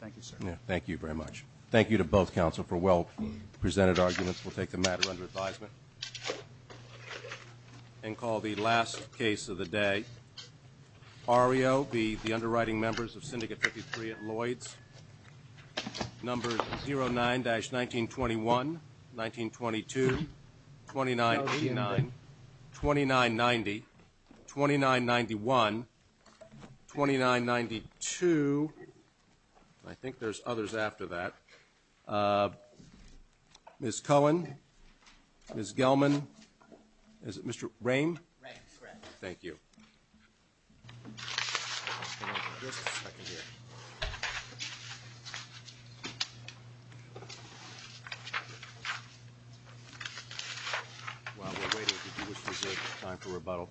Thank you, sir. Thank you very much. Thank you to both counsel for well-presented arguments. We'll take the matter under advisement and call the last case of the day. Ario, the underwriting members of Syndicate 53 at Lloyds. Numbers 09-1921, 1922, 2989, 2990, 2991, 2992. I think there's others after that. Ms. Cohen? Ms. Gelman? Is it Mr. Rame? Rame, correct. Thank you. While we're waiting, did you wish to reserve time for rebuttal?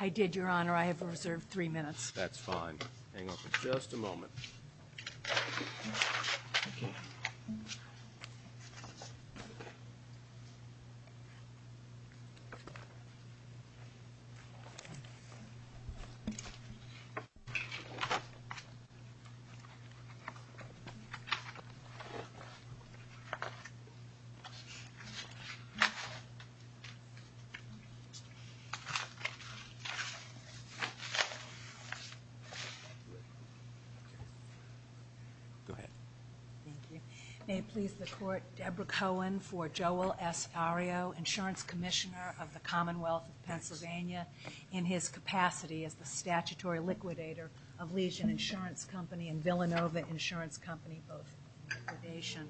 I did, Your Honor. I have reserved three minutes. That's fine. Hang on for just a moment. Go ahead. Thank you. May it please the Court, Deborah Cohen for Joel S. Ario, Insurance Commissioner of the Commonwealth of Pennsylvania, in his capacity as the statutory liquidator of Legion Insurance Company and Villanova Insurance Company, both liquidation.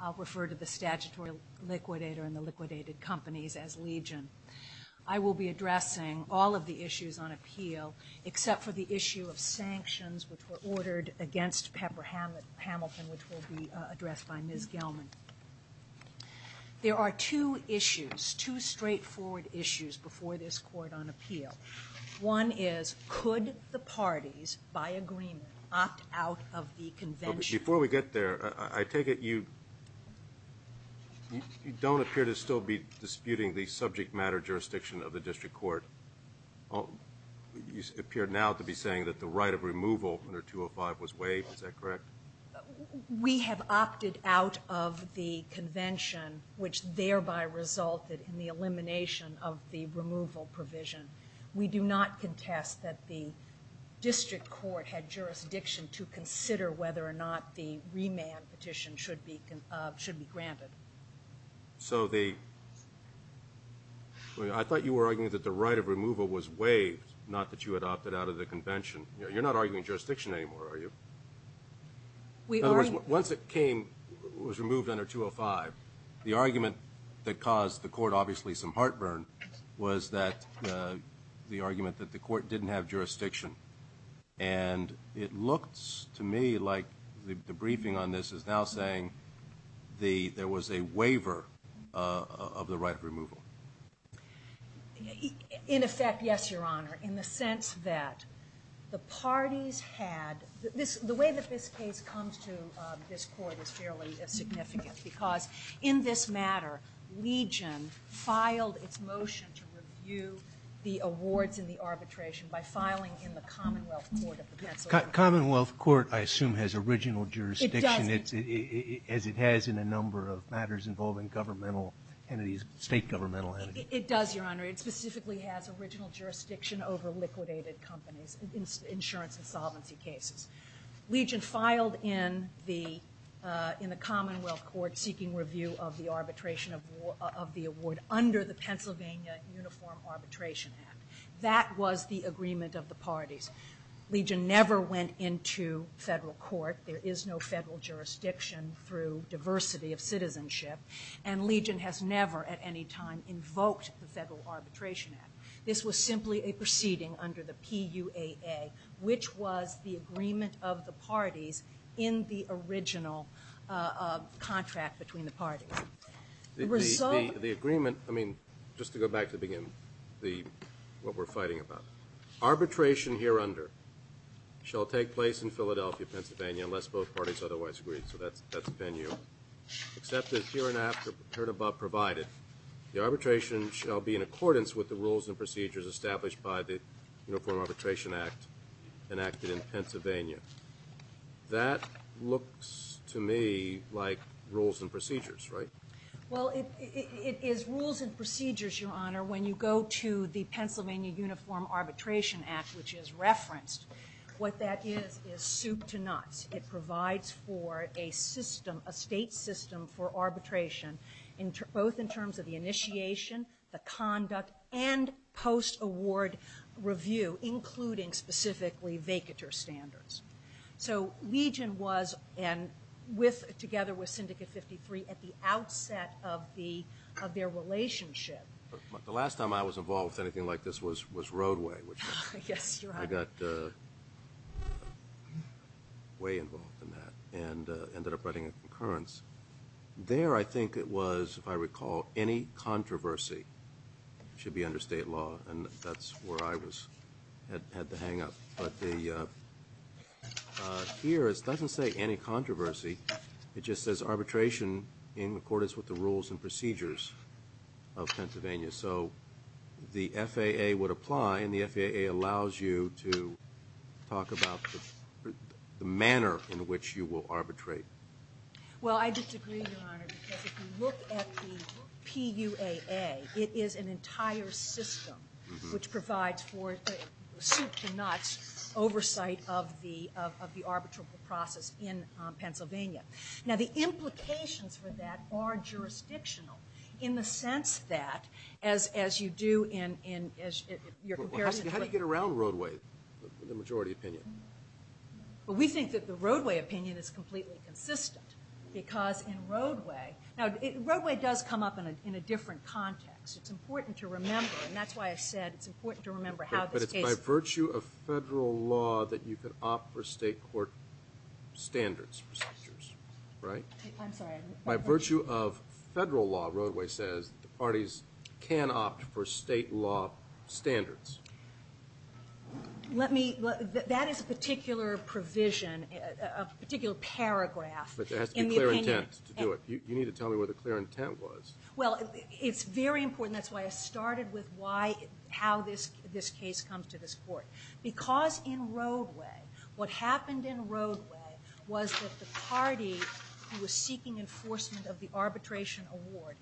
I'll refer to the statutory liquidator and the liquidated companies as Legion. I will be addressing all of the issues on appeal, except for the issue of sanctions, which were ordered against Pepper Hamilton, which will be addressed by Ms. Gelman. There are two issues, two straightforward issues, before this Court on appeal. One is, could the parties, by agreement, opt out of the convention? Before we get there, I take it you don't appear to still be disputing the subject matter jurisdiction of the district court. You appear now to be saying that the right of removal under 205 was waived. Is that correct? We have opted out of the convention, which thereby resulted in the elimination of the removal provision. We do not contest that the district court had jurisdiction to consider whether or not the remand petition should be granted. I thought you were arguing that the right of removal was waived, not that you had opted out of the convention. You're not arguing jurisdiction anymore, are you? In other words, once it was removed under 205, the argument that caused the Court obviously some heartburn was the argument that the Court didn't have jurisdiction. And it looks to me like the briefing on this is now saying there was a waiver of the right of removal. In effect, yes, Your Honor, in the sense that the parties had the way that this case comes to this Court is fairly significant. Because in this matter, Legion filed its motion to review the awards and the arbitration by filing in the Commonwealth Court of the Pennsylvania State. Commonwealth Court, I assume, has original jurisdiction. It does. As it has in a number of matters involving governmental entities, state governmental entities. It does, Your Honor. It specifically has original jurisdiction over liquidated companies, insurance insolvency cases. Legion filed in the Commonwealth Court seeking review of the arbitration of the award under the Pennsylvania Uniform Arbitration Act. That was the agreement of the parties. Legion never went into federal court. There is no federal jurisdiction through diversity of citizenship. And Legion has never at any time invoked the Federal Arbitration Act. This was simply a proceeding under the PUAA, which was the agreement of the parties in the original contract between the parties. The result... The agreement, I mean, just to go back to the beginning, what we're fighting about. Arbitration here under shall take place in Philadelphia, Pennsylvania, unless both parties otherwise agree. So that's a venue. Except that here and after heard above provided, the arbitration shall be in accordance with the rules and procedures established by the Uniform Arbitration Act enacted in Pennsylvania. That looks to me like rules and procedures, right? Well, it is rules and procedures, Your Honor, when you go to the Pennsylvania Uniform Arbitration Act, which is referenced. What that is is soup to nuts. It provides for a system, a state system for arbitration, both in terms of the initiation, the conduct, and post-award review, including specifically vacatur standards. So Legion was, together with Syndicate 53, at the outset of their relationship. The last time I was involved with anything like this was Roadway. Yes, Your Honor. I got way involved in that and ended up writing a concurrence. There I think it was, if I recall, any controversy should be under state law, and that's where I had the hang-up. But here it doesn't say any controversy. It just says arbitration in accordance with the rules and procedures of Pennsylvania. So the FAA would apply, and the FAA allows you to talk about the manner in which you will arbitrate. Well, I disagree, Your Honor, because if you look at the PUAA, it is an entire system, which provides for the soup to nuts oversight of the arbitral process in Pennsylvania. Now, the implications for that are jurisdictional, in the sense that, as you do in your comparison to what — How do you get around Roadway, the majority opinion? Well, we think that the Roadway opinion is completely consistent, because in Roadway — Now, Roadway does come up in a different context. It's important to remember, and that's why I said it's important to remember how this case — But it's by virtue of federal law that you could opt for state court standards, procedures, right? I'm sorry. By virtue of federal law, Roadway says, the parties can opt for state law standards. Let me — that is a particular provision, a particular paragraph. But there has to be clear intent to do it. You need to tell me what the clear intent was. Well, it's very important. That's why I started with why — how this case comes to this court. Because in Roadway, what happened in Roadway was that the party who was seeking enforcement of the arbitration award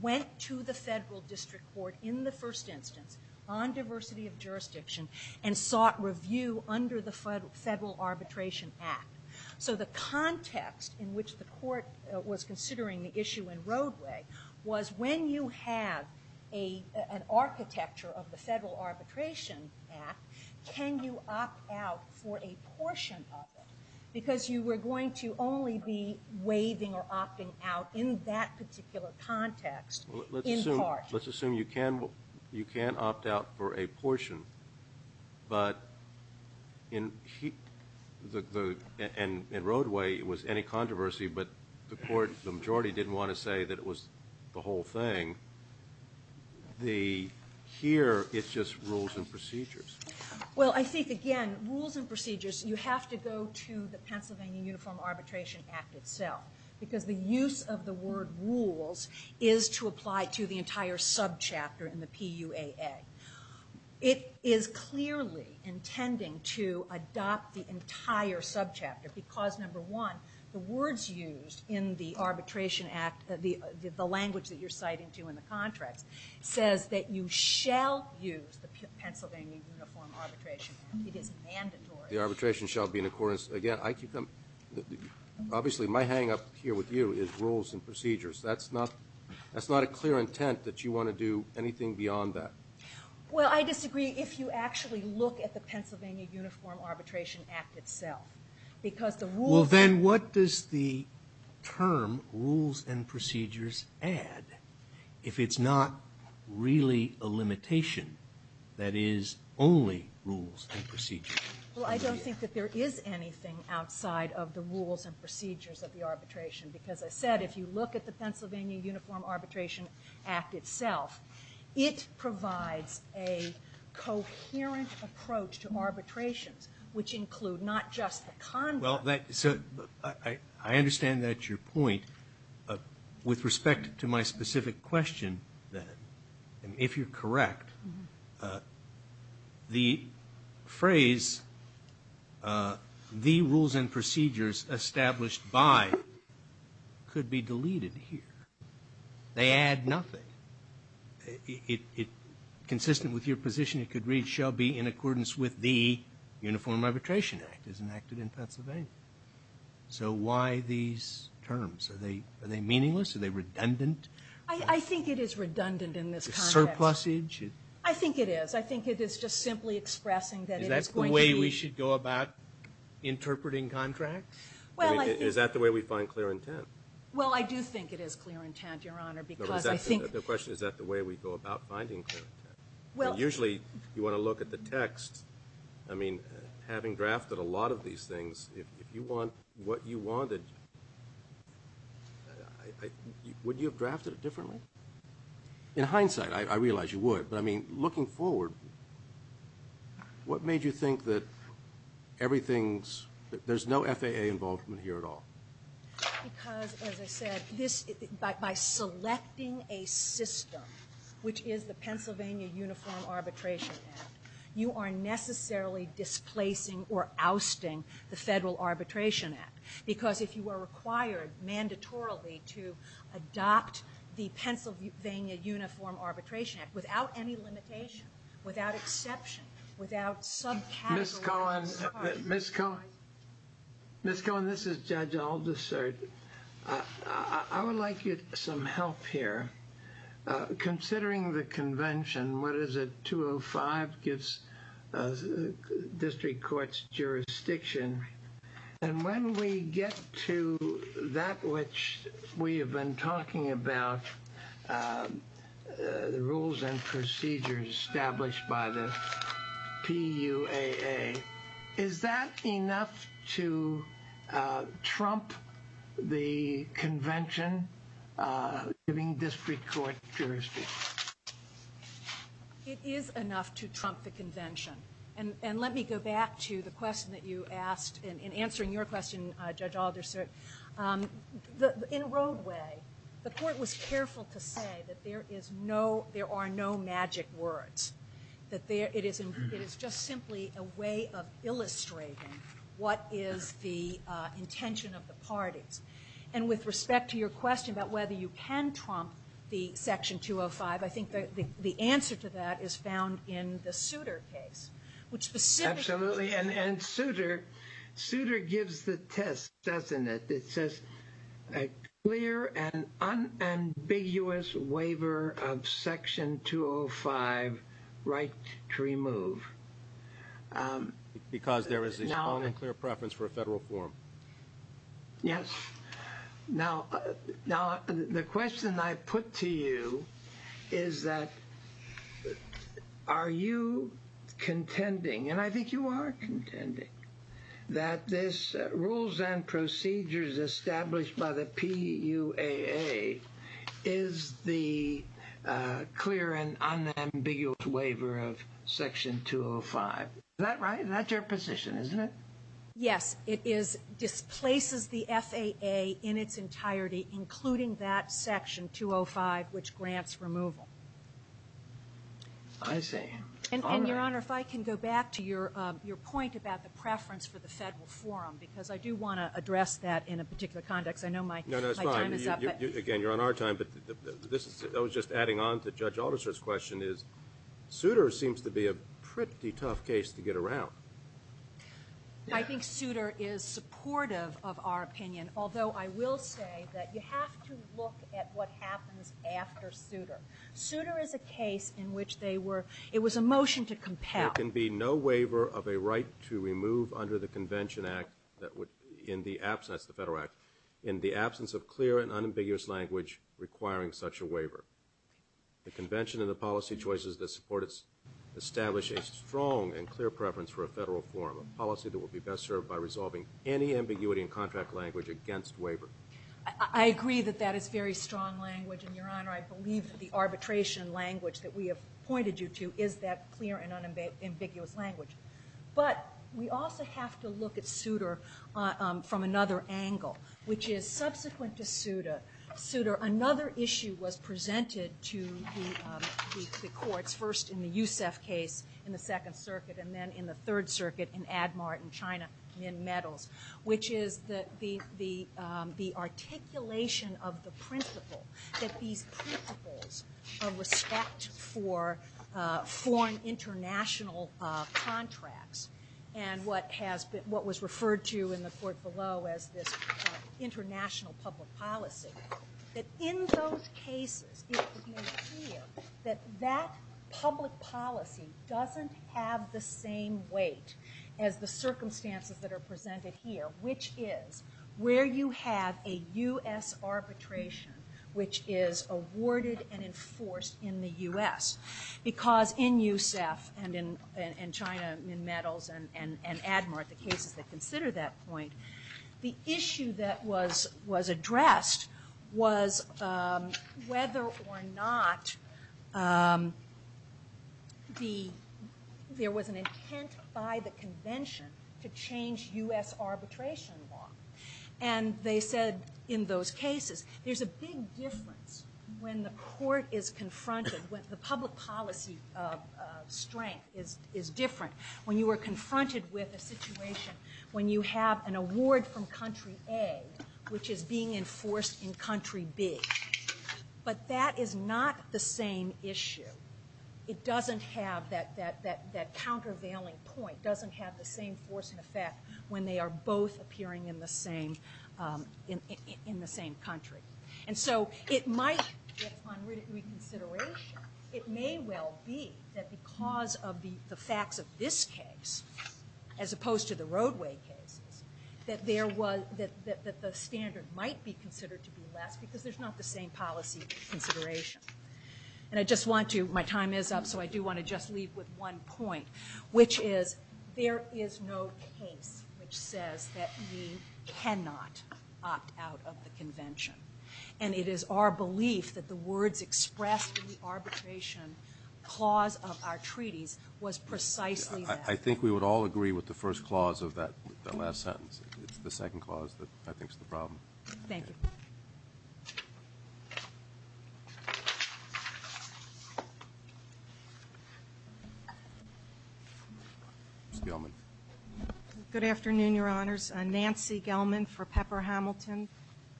went to the federal district court in the first instance on diversity of jurisdiction and sought review under the Federal Arbitration Act. So the context in which the court was considering the issue in Roadway was when you have an architecture of the Federal Arbitration Act, can you opt out for a portion of it? Because you were going to only be waiving or opting out in that particular context in part. Let's assume you can opt out for a portion. But in — and in Roadway, it was any controversy, but the majority didn't want to say that it was the whole thing. Here, it's just rules and procedures. Well, I think, again, rules and procedures, you have to go to the Pennsylvania Uniform Arbitration Act itself because the use of the word rules is to apply to the entire subchapter in the PUAA. It is clearly intending to adopt the entire subchapter because, number one, the words used in the arbitration act, the language that you're citing to in the contracts, says that you shall use the Pennsylvania Uniform Arbitration Act. It is mandatory. The arbitration shall be in accordance. Again, I keep coming — obviously, my hang-up here with you is rules and procedures. That's not a clear intent that you want to do anything beyond that. Well, I disagree if you actually look at the Pennsylvania Uniform Arbitration Act itself because the rules — there is not really a limitation that is only rules and procedures. Well, I don't think that there is anything outside of the rules and procedures of the arbitration because, as I said, if you look at the Pennsylvania Uniform Arbitration Act itself, it provides a coherent approach to arbitrations, which include not just the conduct. Well, so I understand that's your point. With respect to my specific question, then, if you're correct, the phrase the rules and procedures established by could be deleted here. They add nothing. Consistent with your position, it could read, with the Uniform Arbitration Act as enacted in Pennsylvania. So why these terms? Are they meaningless? Are they redundant? I think it is redundant in this context. Is it surplusage? I think it is. I think it is just simply expressing that it is going to be — Is that the way we should go about interpreting contracts? Is that the way we find clear intent? Well, I do think it is clear intent, Your Honor, because I think — The question is, is that the way we go about finding clear intent? Usually, you want to look at the text. I mean, having drafted a lot of these things, if you want what you wanted, would you have drafted it differently? In hindsight, I realize you would. But, I mean, looking forward, what made you think that everything's — there's no FAA involvement here at all? Because, as I said, by selecting a system, which is the Pennsylvania Uniform Arbitration Act, you are necessarily displacing or ousting the Federal Arbitration Act. Because if you are required, mandatorily, to adopt the Pennsylvania Uniform Arbitration Act, without any limitation, without exception, without subcategories — Ms. Cohen. Ms. Cohen. Ms. Cohen, this is Judge Aldersert. I would like some help here. Considering the convention, what is it? 205 gives district courts jurisdiction. And when we get to that which we have been talking about, the rules and procedures established by the PUAA, is that enough to trump the convention giving district court jurisdiction? It is enough to trump the convention. And let me go back to the question that you asked. In answering your question, Judge Aldersert, in Roadway, the court was careful to say that there are no magic words, that it is just simply a way of illustrating what is the intention of the parties. And with respect to your question about whether you can trump the Section 205, I think the answer to that is found in the Souter case. Absolutely. And Souter gives the test, doesn't it? It says a clear and unambiguous waiver of Section 205 right to remove. Because there is a strong and clear preference for a federal forum. Yes. Now, the question I put to you is that are you contending, and I think you are contending, that this rules and procedures established by the PUAA is the clear and unambiguous waiver of Section 205. Is that right? That's your position, isn't it? Yes. It displaces the FAA in its entirety, including that Section 205, which grants removal. I see. And, Your Honor, if I can go back to your point about the preference for the federal forum, because I do want to address that in a particular context. I know my time is up. No, that's fine. Again, you're on our time. But I was just adding on to Judge Alderser's question is Souter seems to be a pretty tough case to get around. I think Souter is supportive of our opinion, although I will say that you have to look at what happens after Souter. Souter is a case in which it was a motion to compel. There can be no waiver of a right to remove under the Convention Act in the absence of clear and unambiguous language requiring such a waiver. The Convention and the policy choices that support it establish a strong and clear preference for a federal forum, a policy that would be best served by resolving any ambiguity and contract language against waiver. I agree that that is very strong language, and, Your Honor, I believe that the arbitration language that we have pointed you to is that clear and unambiguous language. But we also have to look at Souter from another angle, which is subsequent to Souter, Souter, another issue was presented to the courts, first in the Youssef case in the Second Circuit, and then in the Third Circuit in AdMart in China in metals, which is the articulation of the principle that these principles of respect for foreign international contracts and what was referred to in the court below as this international public policy, that in those cases it would be impeded that that public policy doesn't have the same weight as the circumstances that are presented here, which is where you have a U.S. arbitration which is awarded and enforced in the U.S. Because in Youssef and in China in metals and AdMart, the cases that consider that point, the issue that was addressed to change U.S. arbitration law. And they said in those cases, there's a big difference when the court is confronted, when the public policy strength is different, when you are confronted with a situation when you have an award from country A, which is being enforced in country B. But that is not the same issue. It doesn't have that countervailing point, it doesn't have the same force and effect when they are both appearing in the same country. And so it might get on reconsideration. It may well be that because of the facts of this case, as opposed to the roadway cases, that the standard might be considered to be less because there's not the same policy consideration. And I just want to, my time is up, so I do want to just leave with one point, which is there is no case which says that we cannot opt out of the convention. And it is our belief that the words expressed in the arbitration clause of our treaties was precisely that. I think we would all agree with the first clause of that last sentence. It's the second clause that I think is the problem. Thank you. Ms. Gelman. Good afternoon, Your Honors. Nancy Gelman for Pepper Hamilton.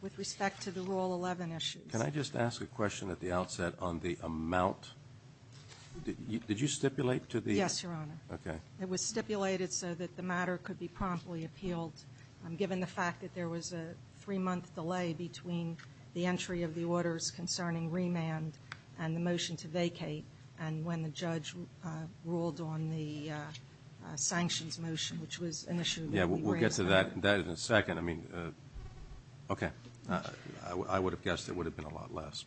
With respect to the Rule 11 issues. Can I just ask a question at the outset on the amount? Did you stipulate to the... Yes, Your Honor. Okay. It was stipulated so that the matter could be promptly appealed given the fact that there was a three-month delay between the entry of the orders concerning remand and the motion to vacate and when the judge ruled on the sanctions motion, which was an issue... Yeah, we'll get to that in a second. I mean, okay. I would have guessed there would have been a lot less.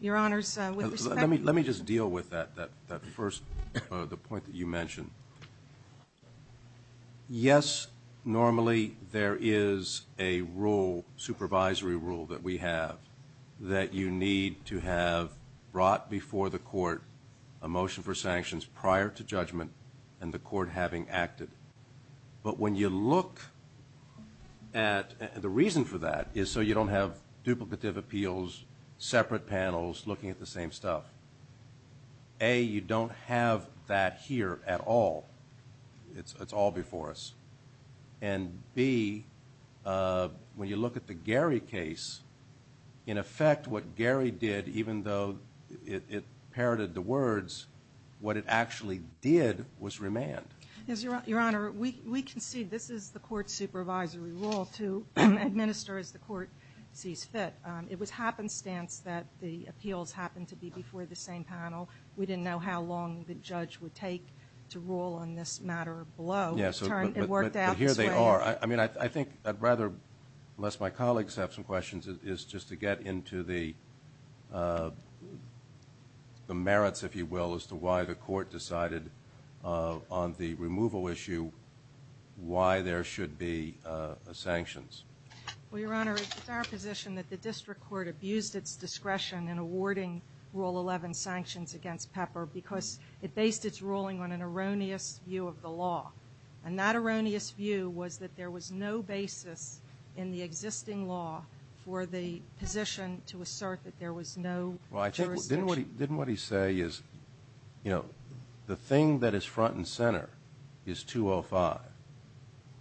Your Honors, with respect... Let me just deal with that first, the point that you mentioned. Yes, normally there is a rule, supervisory rule that we have that you need to have brought before the court a motion for sanctions prior to judgment and the court having acted. But when you look at the reason for that is so you don't have duplicative appeals, separate panels looking at the same stuff. A, you don't have that here at all. It's all before us. And B, when you look at the Gary case, in effect what Gary did, even though it parroted the words, what it actually did was remand. Yes, Your Honor, we concede this is the court's supervisory rule to administer as the court sees fit. It was happenstance that the appeals happened to be before the same panel. We didn't know how long the judge would take to rule on this matter below. Yes, but here they are. I mean, I think I'd rather, unless my colleagues have some questions, is just to get into the merits, if you will, as to why the court decided on the removal issue why there should be sanctions. Well, Your Honor, it's our position that the district court abused its discretion in awarding Rule 11 sanctions against Pepper because it based its ruling on an erroneous view of the law. And that erroneous view was that there was no basis in the existing law for the position to assert that there was no jurisdiction. Didn't what he say is, you know, the thing that is front and center is 205.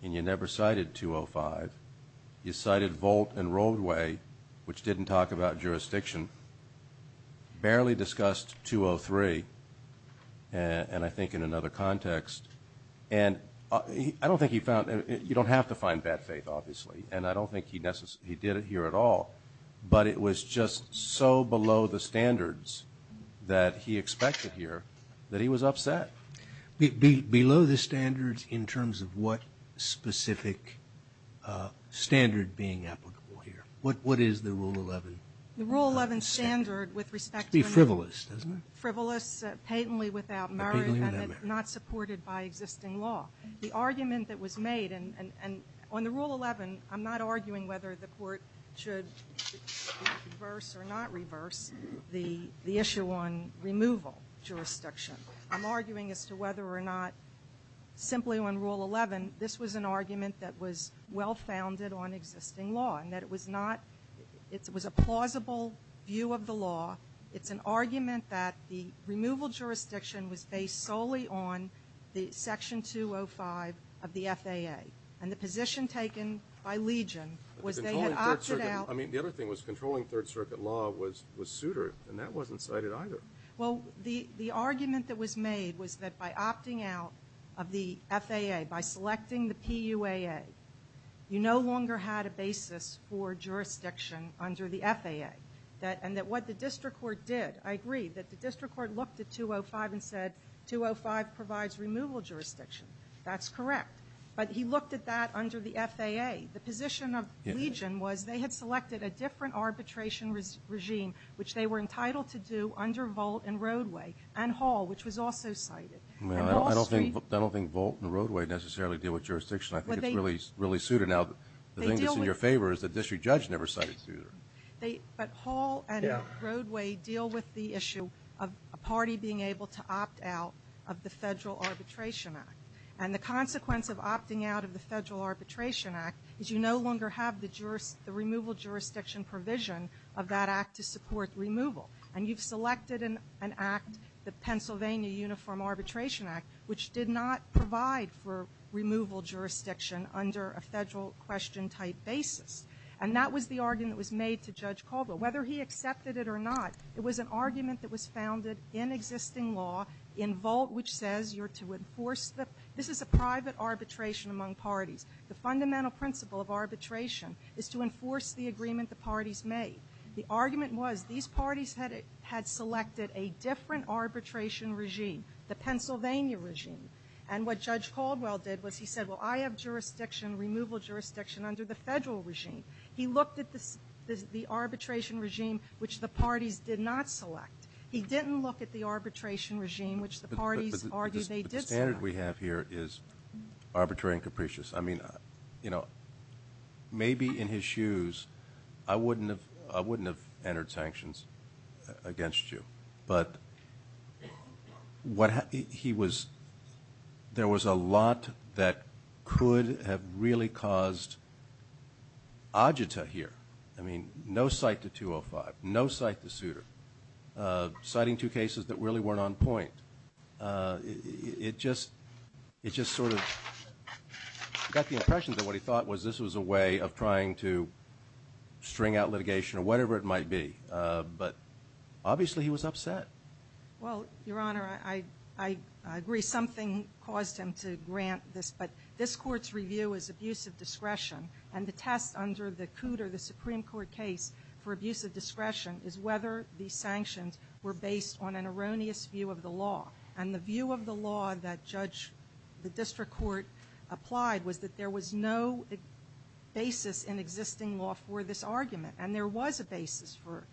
And you never cited 205. You cited Volt and Roadway, which didn't talk about jurisdiction. Barely discussed 203. And I think in another context, and I don't think he found, you don't have to find bad faith, obviously, and I don't think he did it here at all, but it was just so below the standards that he expected here that he was upset. Below the standards in terms of what specific standard being applicable here? What is the Rule 11 standard? The Rule 11 standard with respect to... It should be frivolous, doesn't it? Frivolous patently without merit. Patently without merit. And not supported by existing law. The argument that was made, and on the Rule 11, I'm not arguing whether the court should reverse or not reverse the issue on removal jurisdiction. I'm arguing as to whether or not simply on Rule 11, this was an argument that was well-founded on existing law and that it was not, it was a plausible view of the law. It's an argument that the removal jurisdiction was based solely on the Section 205 of the FAA. And the position taken by Legion was they had opted out... But the controlling Third Circuit, I mean, the other thing was controlling Third Circuit law was suitor, and that wasn't cited either. Well, the argument that was made was that by opting out of the FAA, by selecting the PUAA, you no longer had a basis for jurisdiction under the FAA. And that what the district court did, I agree, that the district court looked at 205 and said, 205 provides removal jurisdiction. That's correct. But he looked at that under the FAA. The position of Legion was they had selected a different arbitration regime, which they were entitled to do under Volt and Roadway, and Hall, which was also cited. And Wall Street... Well, I don't think Volt and Roadway necessarily deal with jurisdiction. I think it's really suitor. Now, the thing that's in your favor is the district judge never cited suitor. But Hall and Roadway deal with the issue of a party being able to opt out of the Federal Arbitration Act. And the consequence of opting out of the Federal Arbitration Act is you no longer have the removal jurisdiction provision of that act to support removal. And you've selected an act, the Pennsylvania Uniform Arbitration Act, which did not provide for removal jurisdiction under a Federal question type basis. And that was the argument that was made to Judge Caldwell. Whether he accepted it or not, it was an argument that was founded in existing law in Volt, which says you're to enforce the... This is a private arbitration among parties. The fundamental principle of arbitration is to enforce the agreement the parties made. The argument was these parties had selected a different arbitration regime, the Pennsylvania regime. And what Judge Caldwell did was he said, Well, I have jurisdiction, removal jurisdiction under the Federal regime. He looked at the arbitration regime, which the parties did not select. He didn't look at the arbitration regime, which the parties argued they did select. But the standard we have here is arbitrary and capricious. I mean, you know, maybe in his shoes I wouldn't have entered sanctions against you. But there was a lot that could have really caused agita here. I mean, no cite to 205. No cite to Souter. Citing two cases that really weren't on point. It just sort of got the impression that what he thought was this was a way of trying to string out litigation or whatever it might be. But obviously he was upset. Well, Your Honor, I agree. Something caused him to grant this. But this Court's review is abusive discretion. And the test under the Cooter, the Supreme Court case, for abusive discretion is whether these sanctions were based on an erroneous view of the law. And the view of the law that Judge the District Court applied was that there was no basis in existing law for this argument. And there was a basis for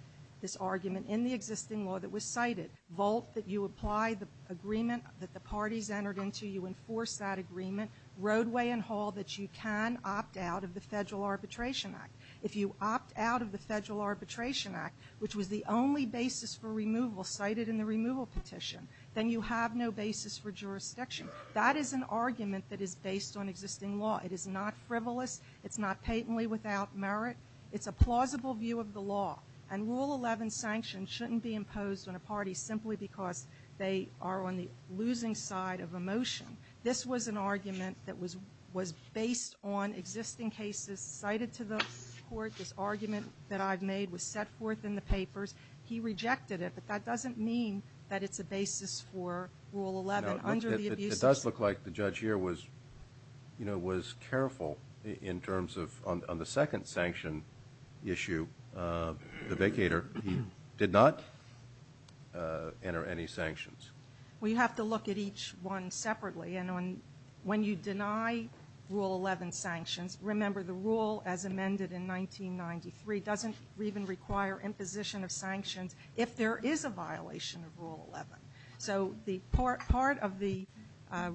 this argument in the existing law that was cited. Vault that you apply the agreement that the parties entered into. You enforce that agreement. Roadway and hall that you can opt out of the Federal Arbitration Act. If you opt out of the Federal Arbitration Act, which was the only basis for removal cited in the removal petition, then you have no basis for jurisdiction. That is an argument that is based on existing law. It is not frivolous. It's not patently without merit. It's a plausible view of the law. And Rule 11 sanctions shouldn't be imposed on a party simply because they are on the losing side of a motion. This was an argument that was based on existing cases cited to the Court. This argument that I've made was set forth in the papers. He rejected it. But that doesn't mean that it's a basis for Rule 11. It does look like the judge here was careful in terms of on the second sanction issue, the vacator, he did not enter any sanctions. We have to look at each one separately. And when you deny Rule 11 sanctions, remember the rule as amended in 1993 doesn't even require imposition of sanctions if there is a violation of Rule 11. So part of the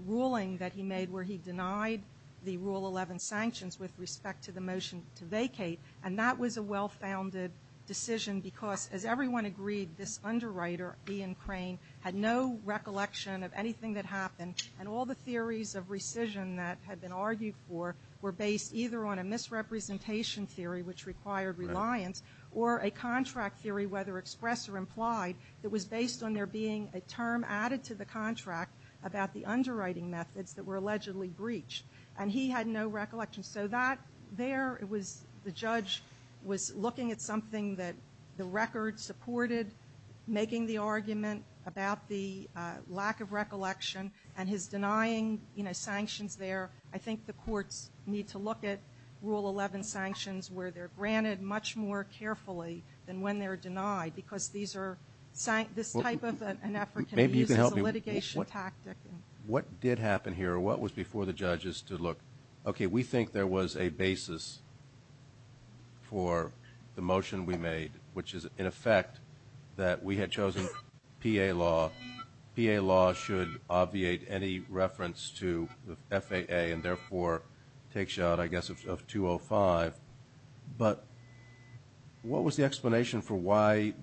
ruling that he made where he denied the Rule 11 sanctions with respect to the motion to vacate, and that was a well-founded decision because, as everyone agreed, this underwriter, Ian Crane, had no recollection of anything that happened, and all the theories of rescission that had been argued for were based either on a misrepresentation theory, which required reliance, or a contract theory, whether expressed or implied, that was based on there being a term added to the contract about the underwriting methods that were allegedly breached. And he had no recollection. So that there, it was the judge was looking at something that the record supported, making the argument about the lack of recollection, and his denying, you know, sanctions there. I think the courts need to look at Rule 11 sanctions where they're granted much more carefully than when they're denied because these are, this type of an effort can be used as a litigation tactic. What did happen here? What was before the judges to look? Okay, we think there was a basis for the motion we made, which is, in effect, that we had chosen PA law. PA law should obviate any reference to FAA and, therefore, take shot, I guess, of 205. But what was the explanation for why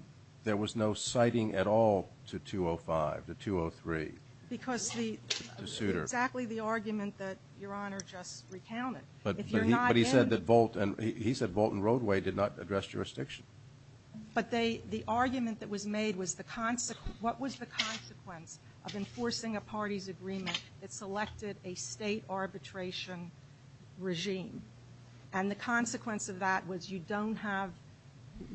there was no citing at all to 205, to 203? Because the, exactly the argument that Your Honor just recounted. If you're not in. But he said that Volt and, he said Volt and Roadway did not address jurisdiction. But they, the argument that was made was the, what was the consequence of enforcing a party's agreement that selected a state arbitration regime? And the consequence of that was you don't have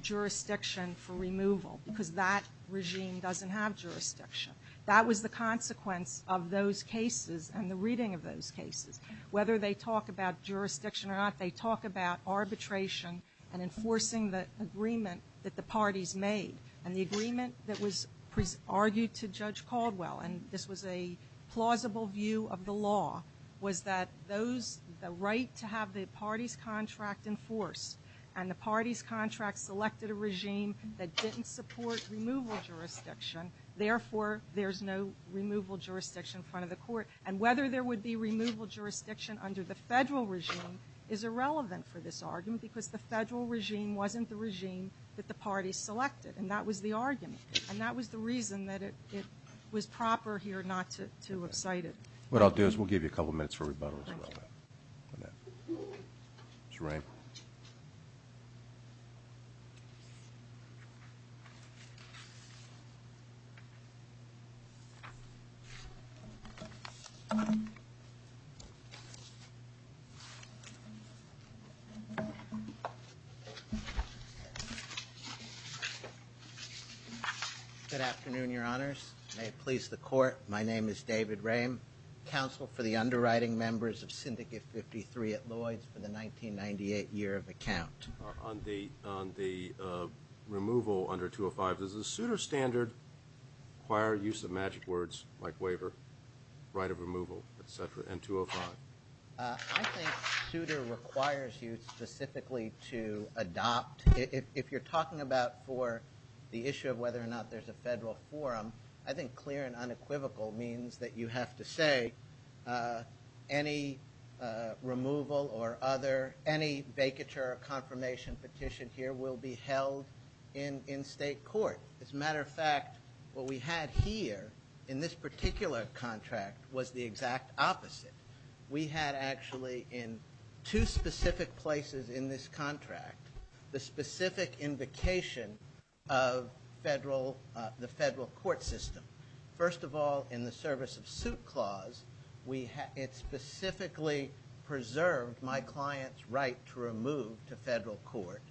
jurisdiction for removal because that regime doesn't have jurisdiction. That was the consequence of those cases and the reading of those cases. Whether they talk about jurisdiction or not, they talk about arbitration and enforcing the agreement that the parties made. And the agreement that was argued to Judge Caldwell, and this was a plausible view of the law, was that those, the right to have the party's contract enforced and the party's contract selected a regime that didn't support removal jurisdiction. Therefore, there's no removal jurisdiction in front of the court. And whether there would be removal jurisdiction under the federal regime is irrelevant for this argument because the federal regime wasn't the regime that the parties selected, and that was the argument. And that was the reason that it was proper here not to excite it. What I'll do is we'll give you a couple minutes for rebuttal as well. Mr. Rehm. Good afternoon, Your Honors. May it please the Court, my name is David Rehm, Counsel for the Underwriting Members of Syndicate 53 at Lloyds for the 1998 year of account. On the removal under 205, does the Souter standard require use of magic words like waiver, right of removal, et cetera, and 205? I think Souter requires you specifically to adopt. If you're talking about for the issue of whether or not there's a federal forum, I think clear and unequivocal means that you have to say any removal or other, any vacature or confirmation petition here will be held in state court. As a matter of fact, what we had here in this particular contract was the exact opposite. We had actually in two specific places in this contract, the specific invocation of the federal court system. First of all, in the service of suit clause, it specifically preserved my client's right to remove to federal court.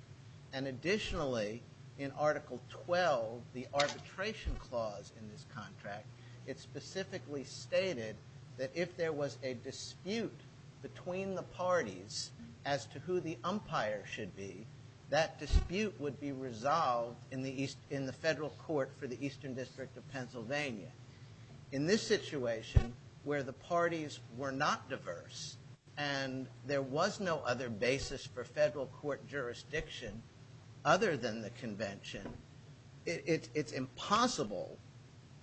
And additionally, in Article 12, the arbitration clause in this contract, it specifically stated that if there was a dispute between the parties as to who the umpire should be, that dispute would be resolved in the federal court for the Eastern District of Pennsylvania. In this situation where the parties were not diverse and there was no other basis for federal court jurisdiction other than the convention, it's impossible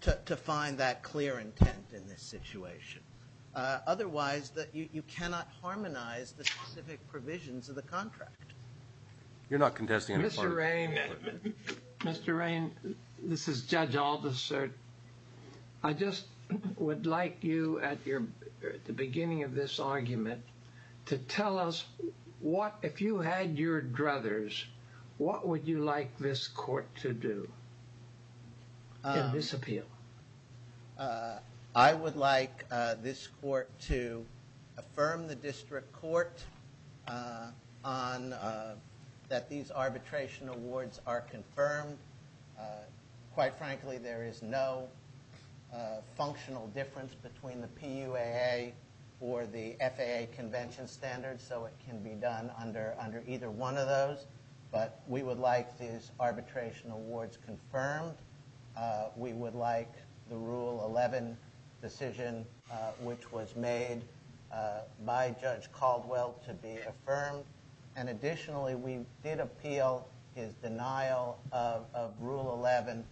to find that clear intent in this situation. Otherwise, you cannot harmonize the specific provisions of the contract. You're not contesting any part of it. Mr. Rain, this is Judge Aldous, sir. I just would like you at the beginning of this argument to tell us what, if you had your druthers, what would you like this court to do in this appeal? I would like this court to affirm the district court that these arbitration awards are confirmed. Quite frankly, there is no functional difference between the PUAA or the FAA convention standards, so it can be done under either one of those. But we would like these arbitration awards confirmed. We would like the Rule 11 decision, which was made by Judge Caldwell, to be affirmed. Additionally, we did appeal his denial of Rule 11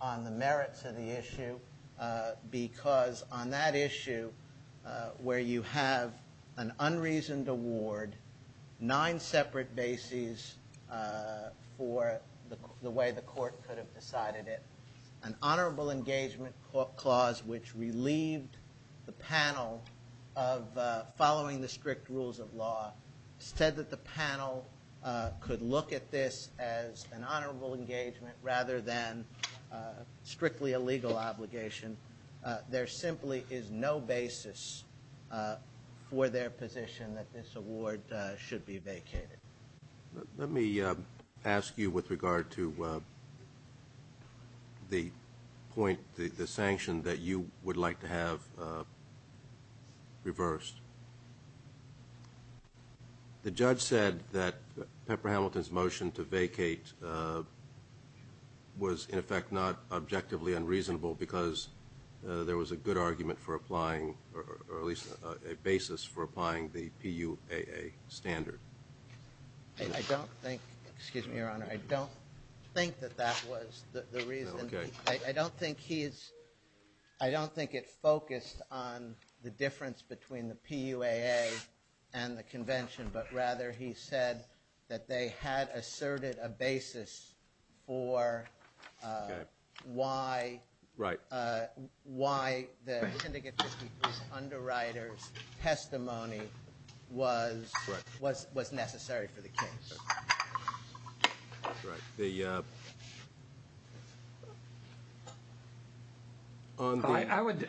on the merits of the issue because on that issue where you have an unreasoned award, nine separate bases for the way the court could have decided it. An honorable engagement clause, which relieved the panel of following the strict rules of law, said that the panel could look at this as an honorable engagement rather than strictly a legal obligation. There simply is no basis for their position that this award should be vacated. Let me ask you with regard to the point, the sanction that you would like to have reversed. The judge said that Pepper Hamilton's motion to vacate was, in effect, not objectively unreasonable because there was a good argument for applying, or at least a basis for applying, the PUAA standard. I don't think that that was the reason. I don't think it focused on the difference between the PUAA and the convention, but rather he said that they had asserted a basis for why the syndicate's underwriter's testimony was necessary for the case. That's right. I would,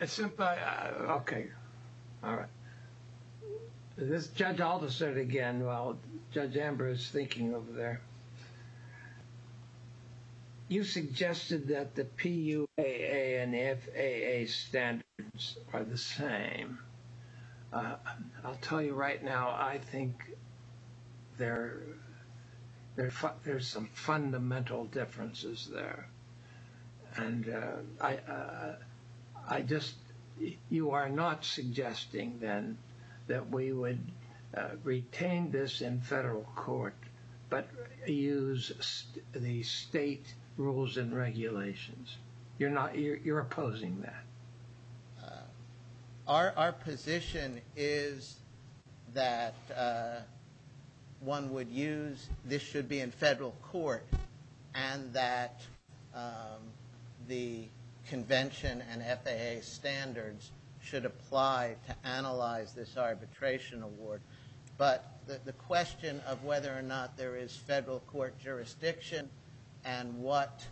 okay. All right. Judge Alderson again, while Judge Amber is thinking over there. You suggested that the PUAA and FAA standards are the same. I'll tell you right now, I think there's some fundamental differences there. You are not suggesting then that we would retain this in federal court but use the state rules and regulations. You're opposing that. Our position is that one would use, this should be in federal court, and that the convention and FAA standards should apply to analyze this arbitration award. But the question of whether or not there is federal court jurisdiction and what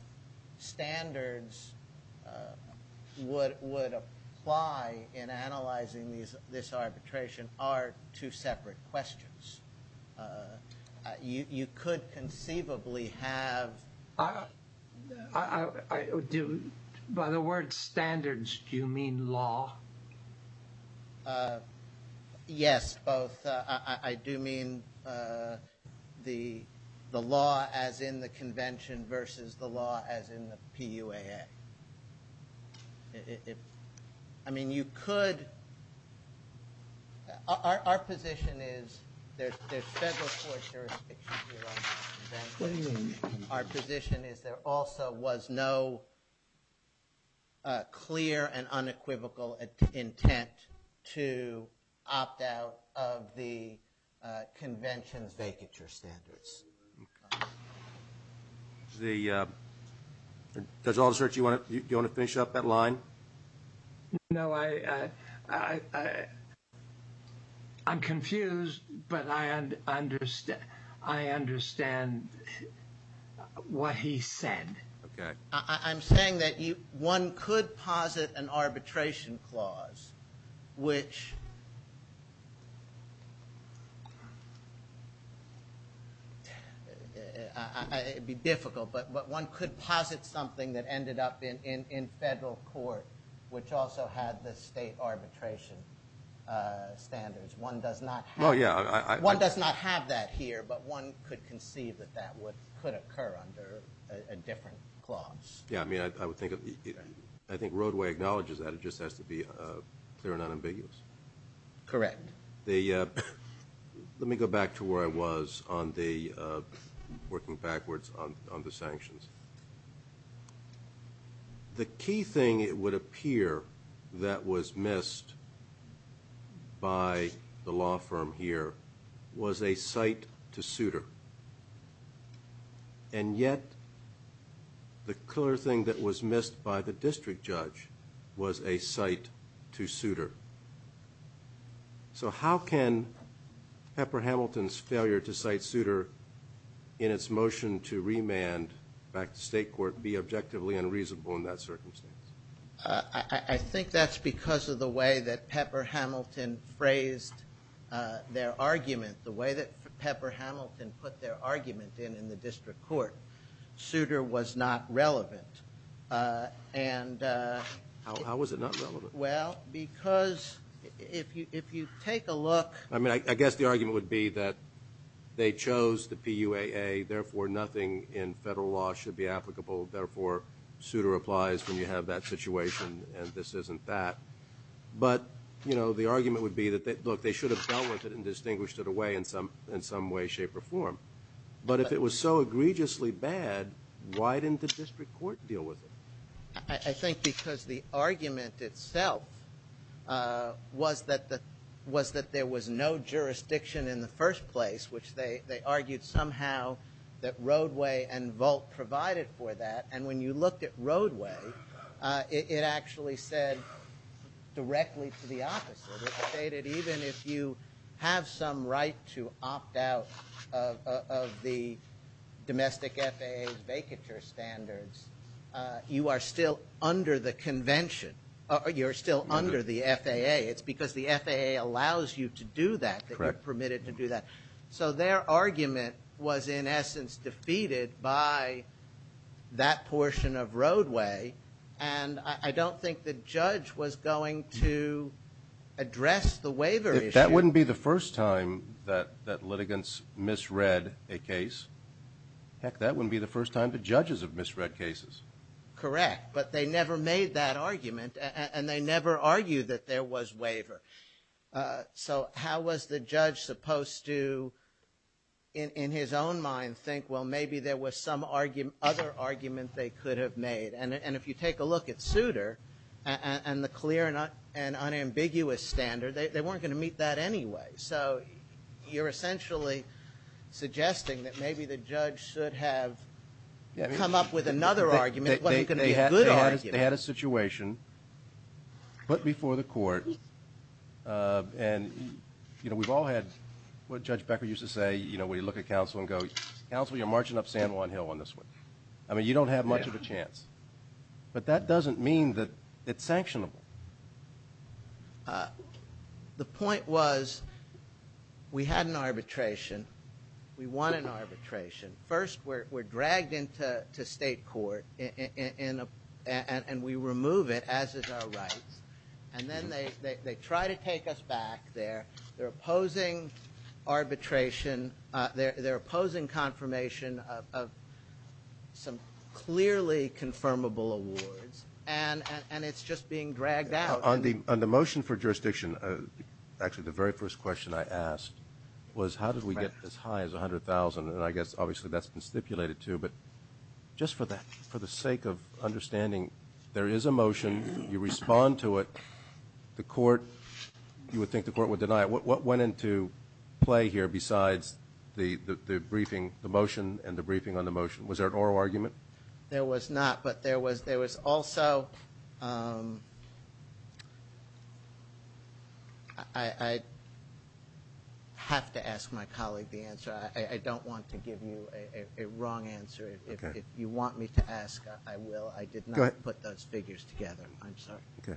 standards would apply in analyzing this arbitration are two separate questions. You could conceivably have... By the word standards, do you mean law? Yes, both. I do mean the law as in the convention versus the law as in the PUAA. I mean you could, our position is there's federal court jurisdiction here on the convention. Our position is there also was no clear and unequivocal intent to opt out of the convention's vacature standards. Judge Alderson, do you want to finish up that line? No, I'm confused, but I understand what he said. I'm saying that one could posit an arbitration clause which... It would be difficult, but one could posit something that ended up in federal court which also had the state arbitration standards. One does not have that here, but one could conceive that that could occur under a different clause. I think Roadway acknowledges that. It just has to be clear and unambiguous. Correct. Let me go back to where I was working backwards on the sanctions. The key thing, it would appear, that was missed by the law firm here was a cite to suitor. And yet the clear thing that was missed by the district judge was a cite to suitor. So how can Pepper Hamilton's failure to cite suitor in its motion to remand back to state court be objectively unreasonable in that circumstance? I think that's because of the way that Pepper Hamilton phrased their argument. The way that Pepper Hamilton put their argument in in the district court, suitor was not relevant. How was it not relevant? Well, because if you take a look... I mean, I guess the argument would be that they chose the PUAA, therefore nothing in federal law should be applicable, therefore suitor applies when you have that situation and this isn't that. But, you know, the argument would be that, look, they should have dealt with it and distinguished it away in some way, shape, or form. But if it was so egregiously bad, why didn't the district court deal with it? I think because the argument itself was that there was no jurisdiction in the first place, which they argued somehow that Roadway and Volt provided for that. And when you looked at Roadway, it actually said directly to the opposite. It stated even if you have some right to opt out of the domestic FAA vacature standards, you are still under the convention. You're still under the FAA. It's because the FAA allows you to do that, that you're permitted to do that. So their argument was in essence defeated by that portion of Roadway, and I don't think the judge was going to address the waiver issue. If that wouldn't be the first time that litigants misread a case, heck, that wouldn't be the first time the judges have misread cases. Correct. But they never made that argument and they never argued that there was waiver. So how was the judge supposed to, in his own mind, think well maybe there was some other argument they could have made? And if you take a look at Souter and the clear and unambiguous standard, they weren't going to meet that anyway. So you're essentially suggesting that maybe the judge should have come up with another argument. It wasn't going to be a good argument. They had a situation put before the court, and we've all had what Judge Becker used to say when you look at counsel and go, counsel, you're marching up San Juan Hill on this one. I mean you don't have much of a chance. But that doesn't mean that it's sanctionable. The point was we had an arbitration. We won an arbitration. First we're dragged into state court and we remove it, as is our right, and then they try to take us back there. They're opposing arbitration. They're opposing confirmation of some clearly confirmable awards, and it's just being dragged out. On the motion for jurisdiction, actually the very first question I asked was how did we get as high as 100,000? And I guess obviously that's been stipulated too. But just for the sake of understanding, there is a motion. You respond to it. The court, you would think the court would deny it. What went into play here besides the briefing, the motion and the briefing on the motion? Was there an oral argument? There was not, but there was also ‑‑ I have to ask my colleague the answer. I don't want to give you a wrong answer. If you want me to ask, I will. I did not put those figures together. I'm sorry. Okay.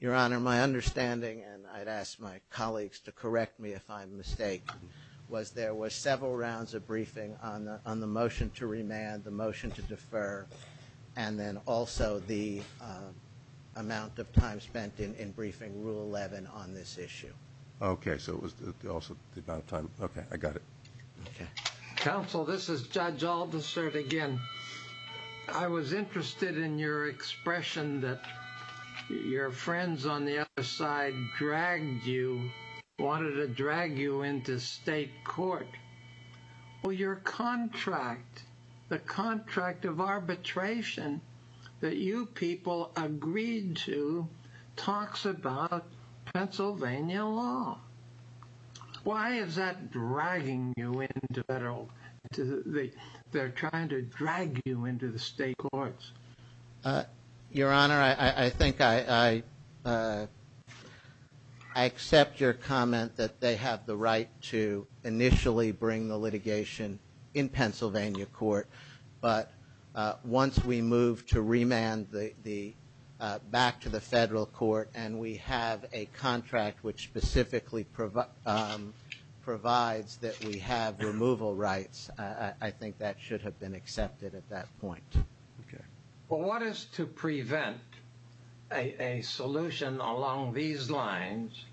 Your Honor, my understanding, and I'd ask my colleagues to correct me if I'm mistaken, was there were several rounds of briefing on the motion to remand, the motion to defer, and then also the amount of time spent in briefing Rule 11 on this issue. Okay. So it was also the amount of time. Okay. I got it. Okay. Counsel, this is Judge Aldersert again. I was interested in your expression that your friends on the other side dragged you, wanted to drag you into state court. Well, your contract, the contract of arbitration that you people agreed to talks about Pennsylvania law. Why is that dragging you into federal? They're trying to drag you into the state courts. Your Honor, I think I accept your comment that they have the right to initially bring the litigation in Pennsylvania court, but once we move to remand back to the federal court and we have a contract which specifically provides that we have removal rights, I think that should have been accepted at that point. Okay. Well, what is to prevent a solution along these lines?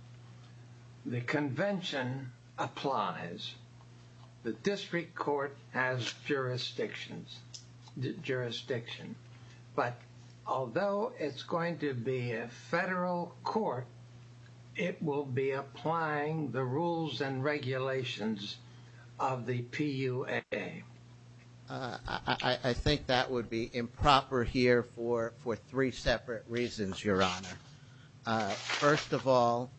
The convention applies. The district court has jurisdictions, jurisdiction. But although it's going to be a federal court, it will be applying the rules and regulations of the PUA. I think that would be improper here for three separate reasons, Your Honor. First of all,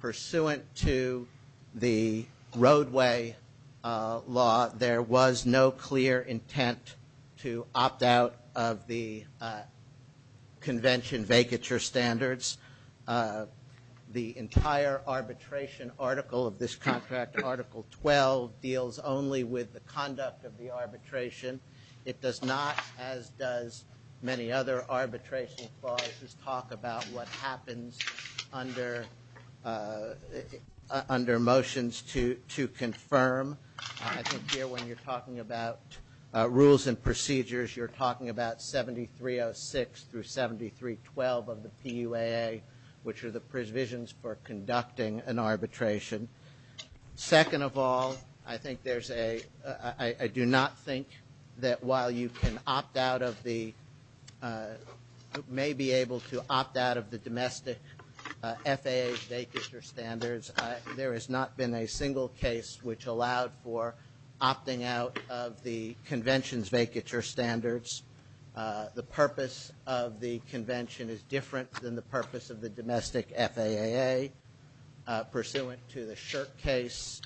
pursuant to the roadway law, there was no clear intent to opt out of the convention vacature standards. The entire arbitration article of this contract, Article 12, deals only with the conduct of the arbitration. It does not, as does many other arbitration clauses, talk about what happens under motions to confirm. I think here when you're talking about rules and procedures, you're talking about 7306 through 7312 of the PUA, which are the provisions for conducting an arbitration. Second of all, I do not think that while you may be able to opt out of the domestic FAA vacature standards, there has not been a single case which allowed for opting out of the convention's vacature standards. The purpose of the convention is different than the purpose of the domestic FAA. Pursuant to the Shirk case,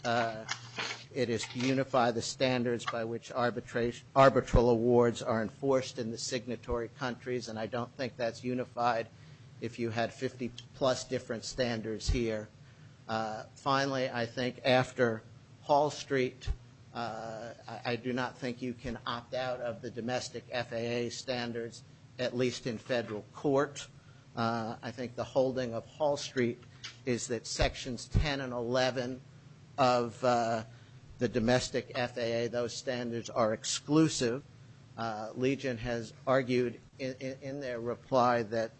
it is to unify the standards by which arbitral awards are enforced in the signatory countries, and I don't think that's unified if you had 50-plus different standards here. Finally, I think after Hall Street, I do not think you can opt out of the domestic FAA standards, at least in federal court. I think the holding of Hall Street is that Sections 10 and 11 of the domestic FAA, those standards are exclusive. Legion has argued in their reply that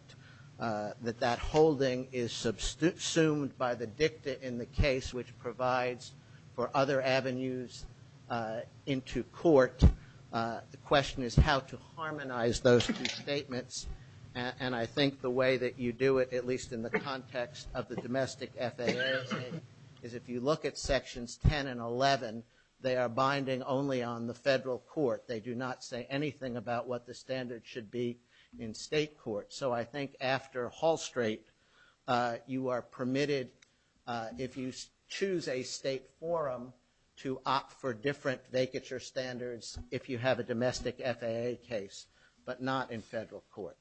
that holding is subsumed by the dicta in the case, which provides for other avenues into court. The question is how to harmonize those two statements, and I think the way that you do it, at least in the context of the domestic FAA, is if you look at Sections 10 and 11, they are binding only on the federal court. They do not say anything about what the standards should be in state court. So I think after Hall Street, you are permitted, if you choose a state forum, to opt for different vacature standards if you have a domestic FAA case, but not in federal court.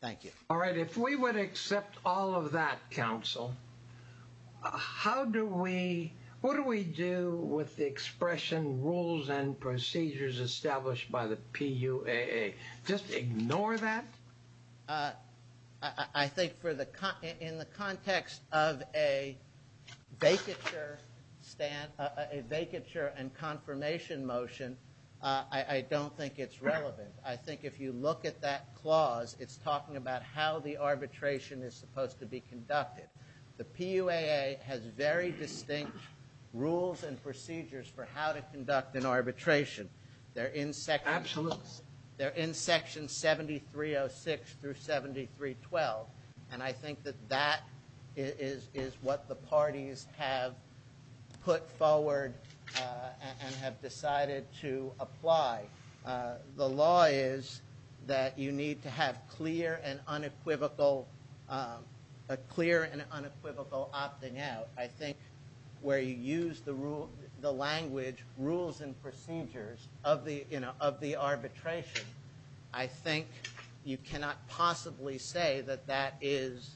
Thank you. All right, if we would accept all of that, counsel, how do we, what do we do with the expression rules and procedures established by the PUAA? Just ignore that? I think in the context of a vacature and confirmation motion, I don't think it's relevant. I think if you look at that clause, it's talking about how the arbitration is supposed to be conducted. The PUAA has very distinct rules and procedures for how to conduct an arbitration. They're in Section 7306 through 7312, and I think that that is what the parties have put forward and have decided to apply. The law is that you need to have clear and unequivocal opting out. I think where you use the language rules and procedures of the arbitration, I think you cannot possibly say that that is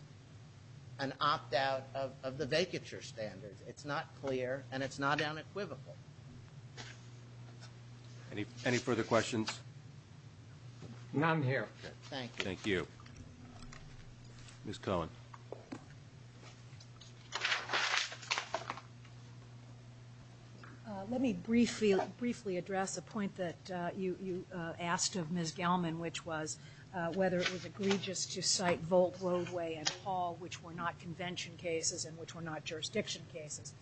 an opt-out of the vacature standards. It's not clear, and it's not unequivocal. Any further questions? None here. Thank you. Thank you. Ms. Cohen. Let me briefly address a point that you asked of Ms. Gelman, which was whether it was egregious to cite Volt, Roadway, and Hall, which were not convention cases and which were not jurisdiction cases.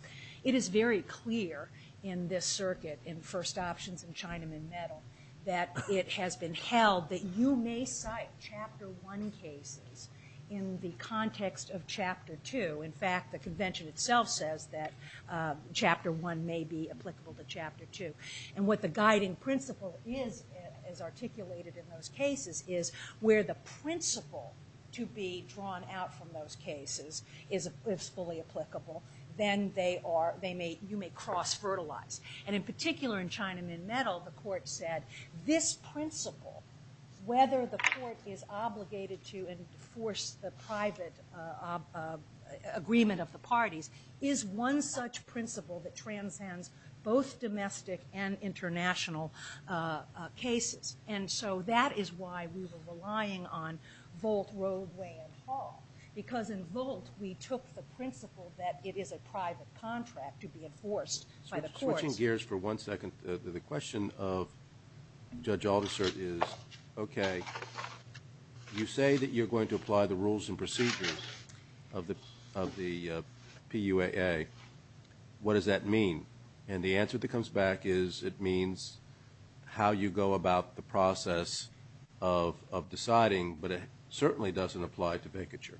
It is very clear in this circuit, in First Options and Chinaman Metal, that it has been held that you may cite Chapter 1 cases in the context of Chapter 2. In fact, the convention itself says that Chapter 1 may be applicable to Chapter 2. And what the guiding principle is, as articulated in those cases, is where the principle to be drawn out from those cases is fully applicable, then you may cross-fertilize. And in particular in Chinaman Metal, the court said this principle, whether the court is obligated to enforce the private agreement of the parties, is one such principle that transcends both domestic and international cases. And so that is why we were relying on Volt, Roadway, and Hall, because in Volt we took the principle that it is a private contract to be enforced by the courts. Switching gears for one second, the question of Judge Aldersert is, okay, you say that you're going to apply the rules and procedures of the PUAA. What does that mean? And the answer that comes back is it means how you go about the process of deciding, but it certainly doesn't apply to vacature.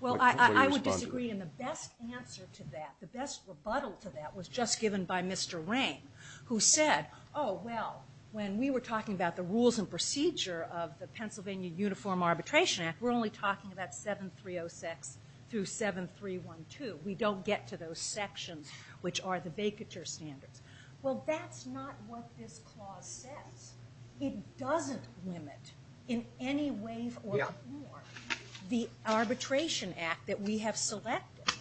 Well, I would disagree, and the best answer to that, the best rebuttal to that, was just given by Mr. Rain, who said, oh, well, when we were talking about the rules and procedure of the Pennsylvania Uniform Arbitration Act, we're only talking about 7306 through 7312. We don't get to those sections, which are the vacature standards. Well, that's not what this clause says. It doesn't limit in any way or form the arbitration act that we have selected.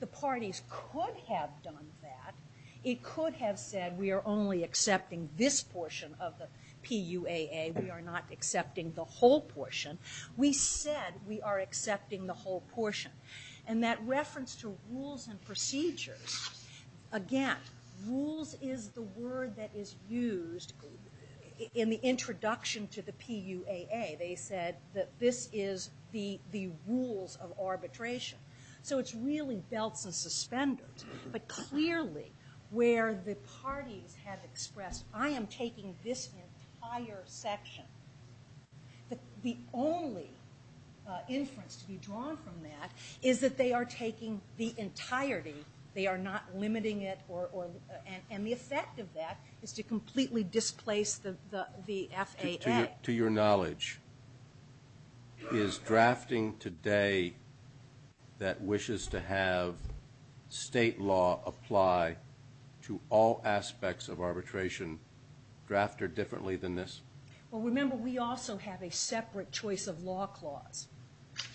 The parties could have done that. It could have said we are only accepting this portion of the PUAA. We are not accepting the whole portion. We said we are accepting the whole portion, and that reference to rules and procedures, again, rules is the word that is used in the introduction to the PUAA. They said that this is the rules of arbitration. So it's really belts and suspenders, but clearly where the parties have expressed, I am taking this entire section, the only inference to be drawn from that is that they are taking the entirety. They are not limiting it, and the effect of that is to completely displace the FAA. To your knowledge, is drafting today that wishes to have state law apply to all aspects of arbitration drafted differently than this? Well, remember, we also have a separate choice of law clause.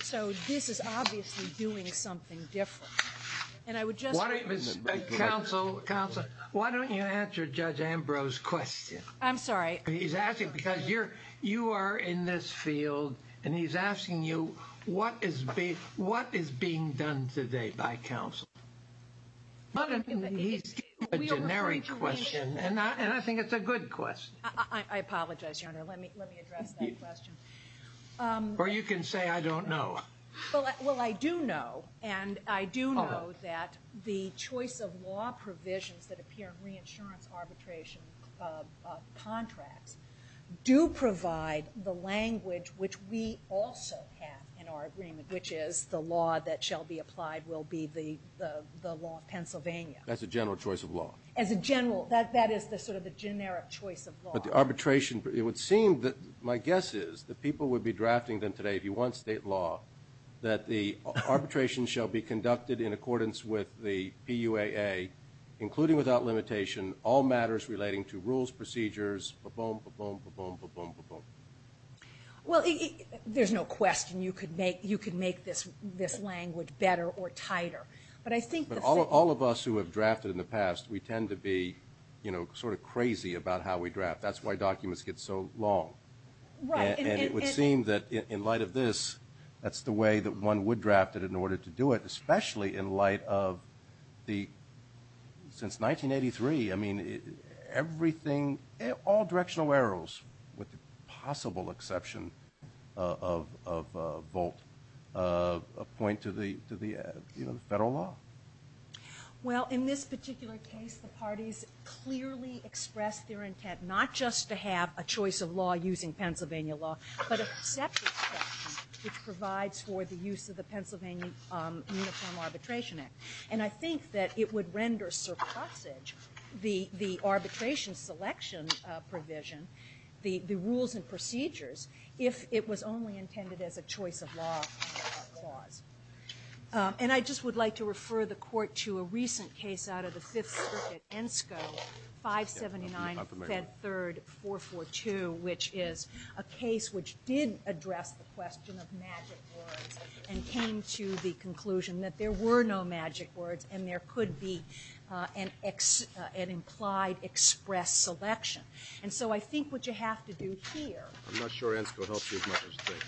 So this is obviously doing something different. Counsel, why don't you answer Judge Ambrose's question? I'm sorry. He's asking because you are in this field, and he's asking you what is being done today by counsel. He's giving you a generic question, and I think it's a good question. I apologize, Your Honor. Let me address that question. Or you can say I don't know. Well, I do know, and I do know that the choice of law provisions that appear in reinsurance arbitration contracts do provide the language which we also have in our agreement, which is the law that shall be applied will be the law of Pennsylvania. That's a general choice of law. That is sort of the generic choice of law. But the arbitration, it would seem that my guess is that people would be drafting them today, if you want state law, that the arbitration shall be conducted in accordance with the PUAA, including without limitation all matters relating to rules, procedures, ba-boom, ba-boom, ba-boom, ba-boom, ba-boom. Well, there's no question you could make this language better or tighter. But all of us who have drafted in the past, we tend to be sort of crazy about how we draft. That's why documents get so long. Right. And it would seem that in light of this, that's the way that one would draft it in order to do it, especially in light of the, since 1983, I mean, everything, all directional arrows, with the possible exception of a vote, a point to the federal law. Well, in this particular case, the parties clearly expressed their intent not just to have a choice of law using Pennsylvania law, but a perception which provides for the use of the Pennsylvania Uniform Arbitration Act. And I think that it would render surplusage the arbitration selection provision, the rules and procedures, if it was only intended as a choice of law clause. And I just would like to refer the Court to a recent case out of the Fifth Circuit, ENSCO 579 Fed 3rd 442, which is a case which did address the question of magic words and came to the conclusion that there were no magic words and there could be an implied express selection. And so I think what you have to do here. I'm not sure ENSCO helps you as much as they do.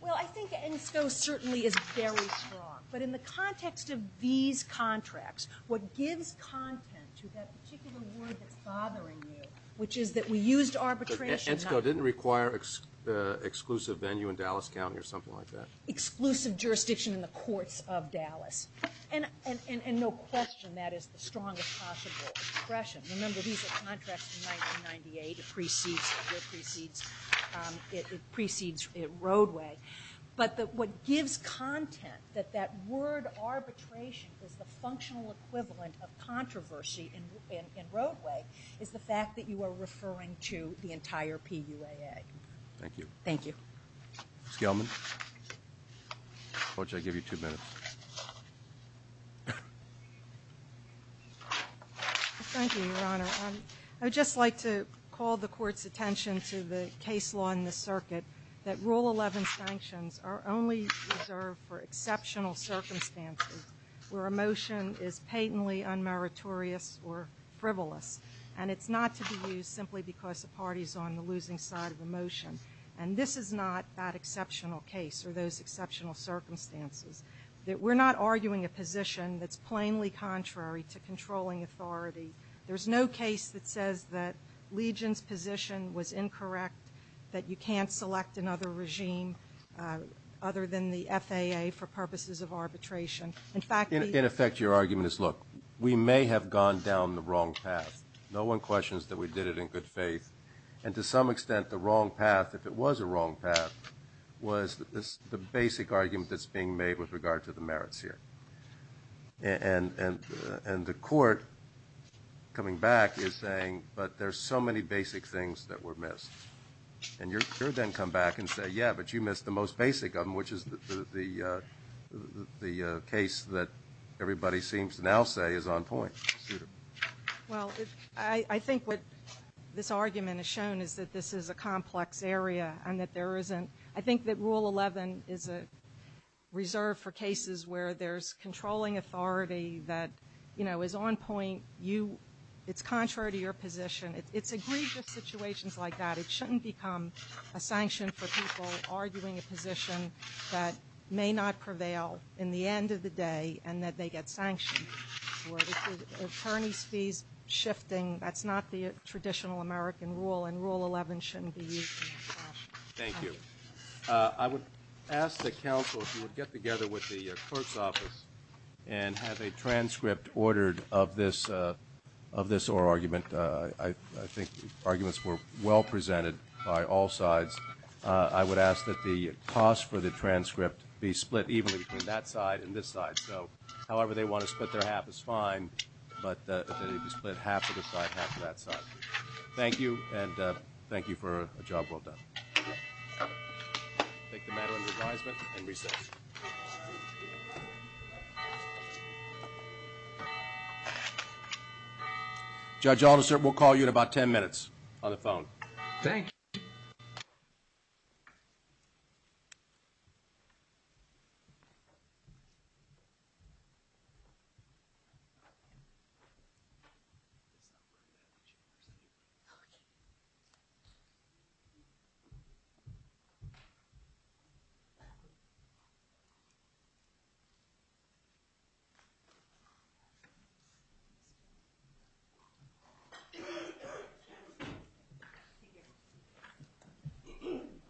Well, I think ENSCO certainly is very strong. But in the context of these contracts, what gives content to that particular word that's bothering you, which is that we used arbitration. ENSCO didn't require exclusive venue in Dallas County or something like that. Exclusive jurisdiction in the courts of Dallas. And no question that is the strongest possible expression. Remember, these are contracts from 1998. It precedes Roadway. But what gives content that that word arbitration is the functional equivalent of controversy in Roadway is the fact that you are referring to the entire PUAA. Thank you. Thank you. Ms. Gelman. Coach, I give you two minutes. Thank you, Your Honor. I would just like to call the court's attention to the case law in the circuit that Rule 11 sanctions are only reserved for exceptional circumstances where a motion is patently unmeritorious or frivolous. And it's not to be used simply because the party is on the losing side of the motion. And this is not that exceptional case or those exceptional circumstances. We're not arguing a position that's plainly contrary to controlling authority. There's no case that says that Legion's position was incorrect, that you can't select another regime other than the FAA for purposes of arbitration. In effect, your argument is, look, we may have gone down the wrong path. No one questions that we did it in good faith. And to some extent, the wrong path, if it was a wrong path, was the basic argument that's being made with regard to the merits here. And the court, coming back, is saying, but there's so many basic things that were missed. And you then come back and say, yeah, but you missed the most basic of them, which is the case that everybody seems to now say is on point. Well, I think what this argument has shown is that this is a complex area and that there isn't – I think that Rule 11 is a reserve for cases where there's controlling authority that, you know, is on point. It's contrary to your position. It's egregious situations like that. It shouldn't become a sanction for people arguing a position that may not prevail in the end of the day and that they get sanctioned for it. Attorney's fees shifting, that's not the traditional American rule, and Rule 11 shouldn't be used in that fashion. Thank you. I would ask that counsel, if you would get together with the court's office and have a transcript ordered of this oral argument. I think arguments were well presented by all sides. I would ask that the cost for the transcript be split evenly between that side and this side. So however they want to split their half is fine, but that it be split half to this side, half to that side. Thank you, and thank you for a job well done. We'll take the matter into advisement and recess. Thank you. Judge Alderson, we'll call you in about ten minutes on the phone. Thank you. Thank you.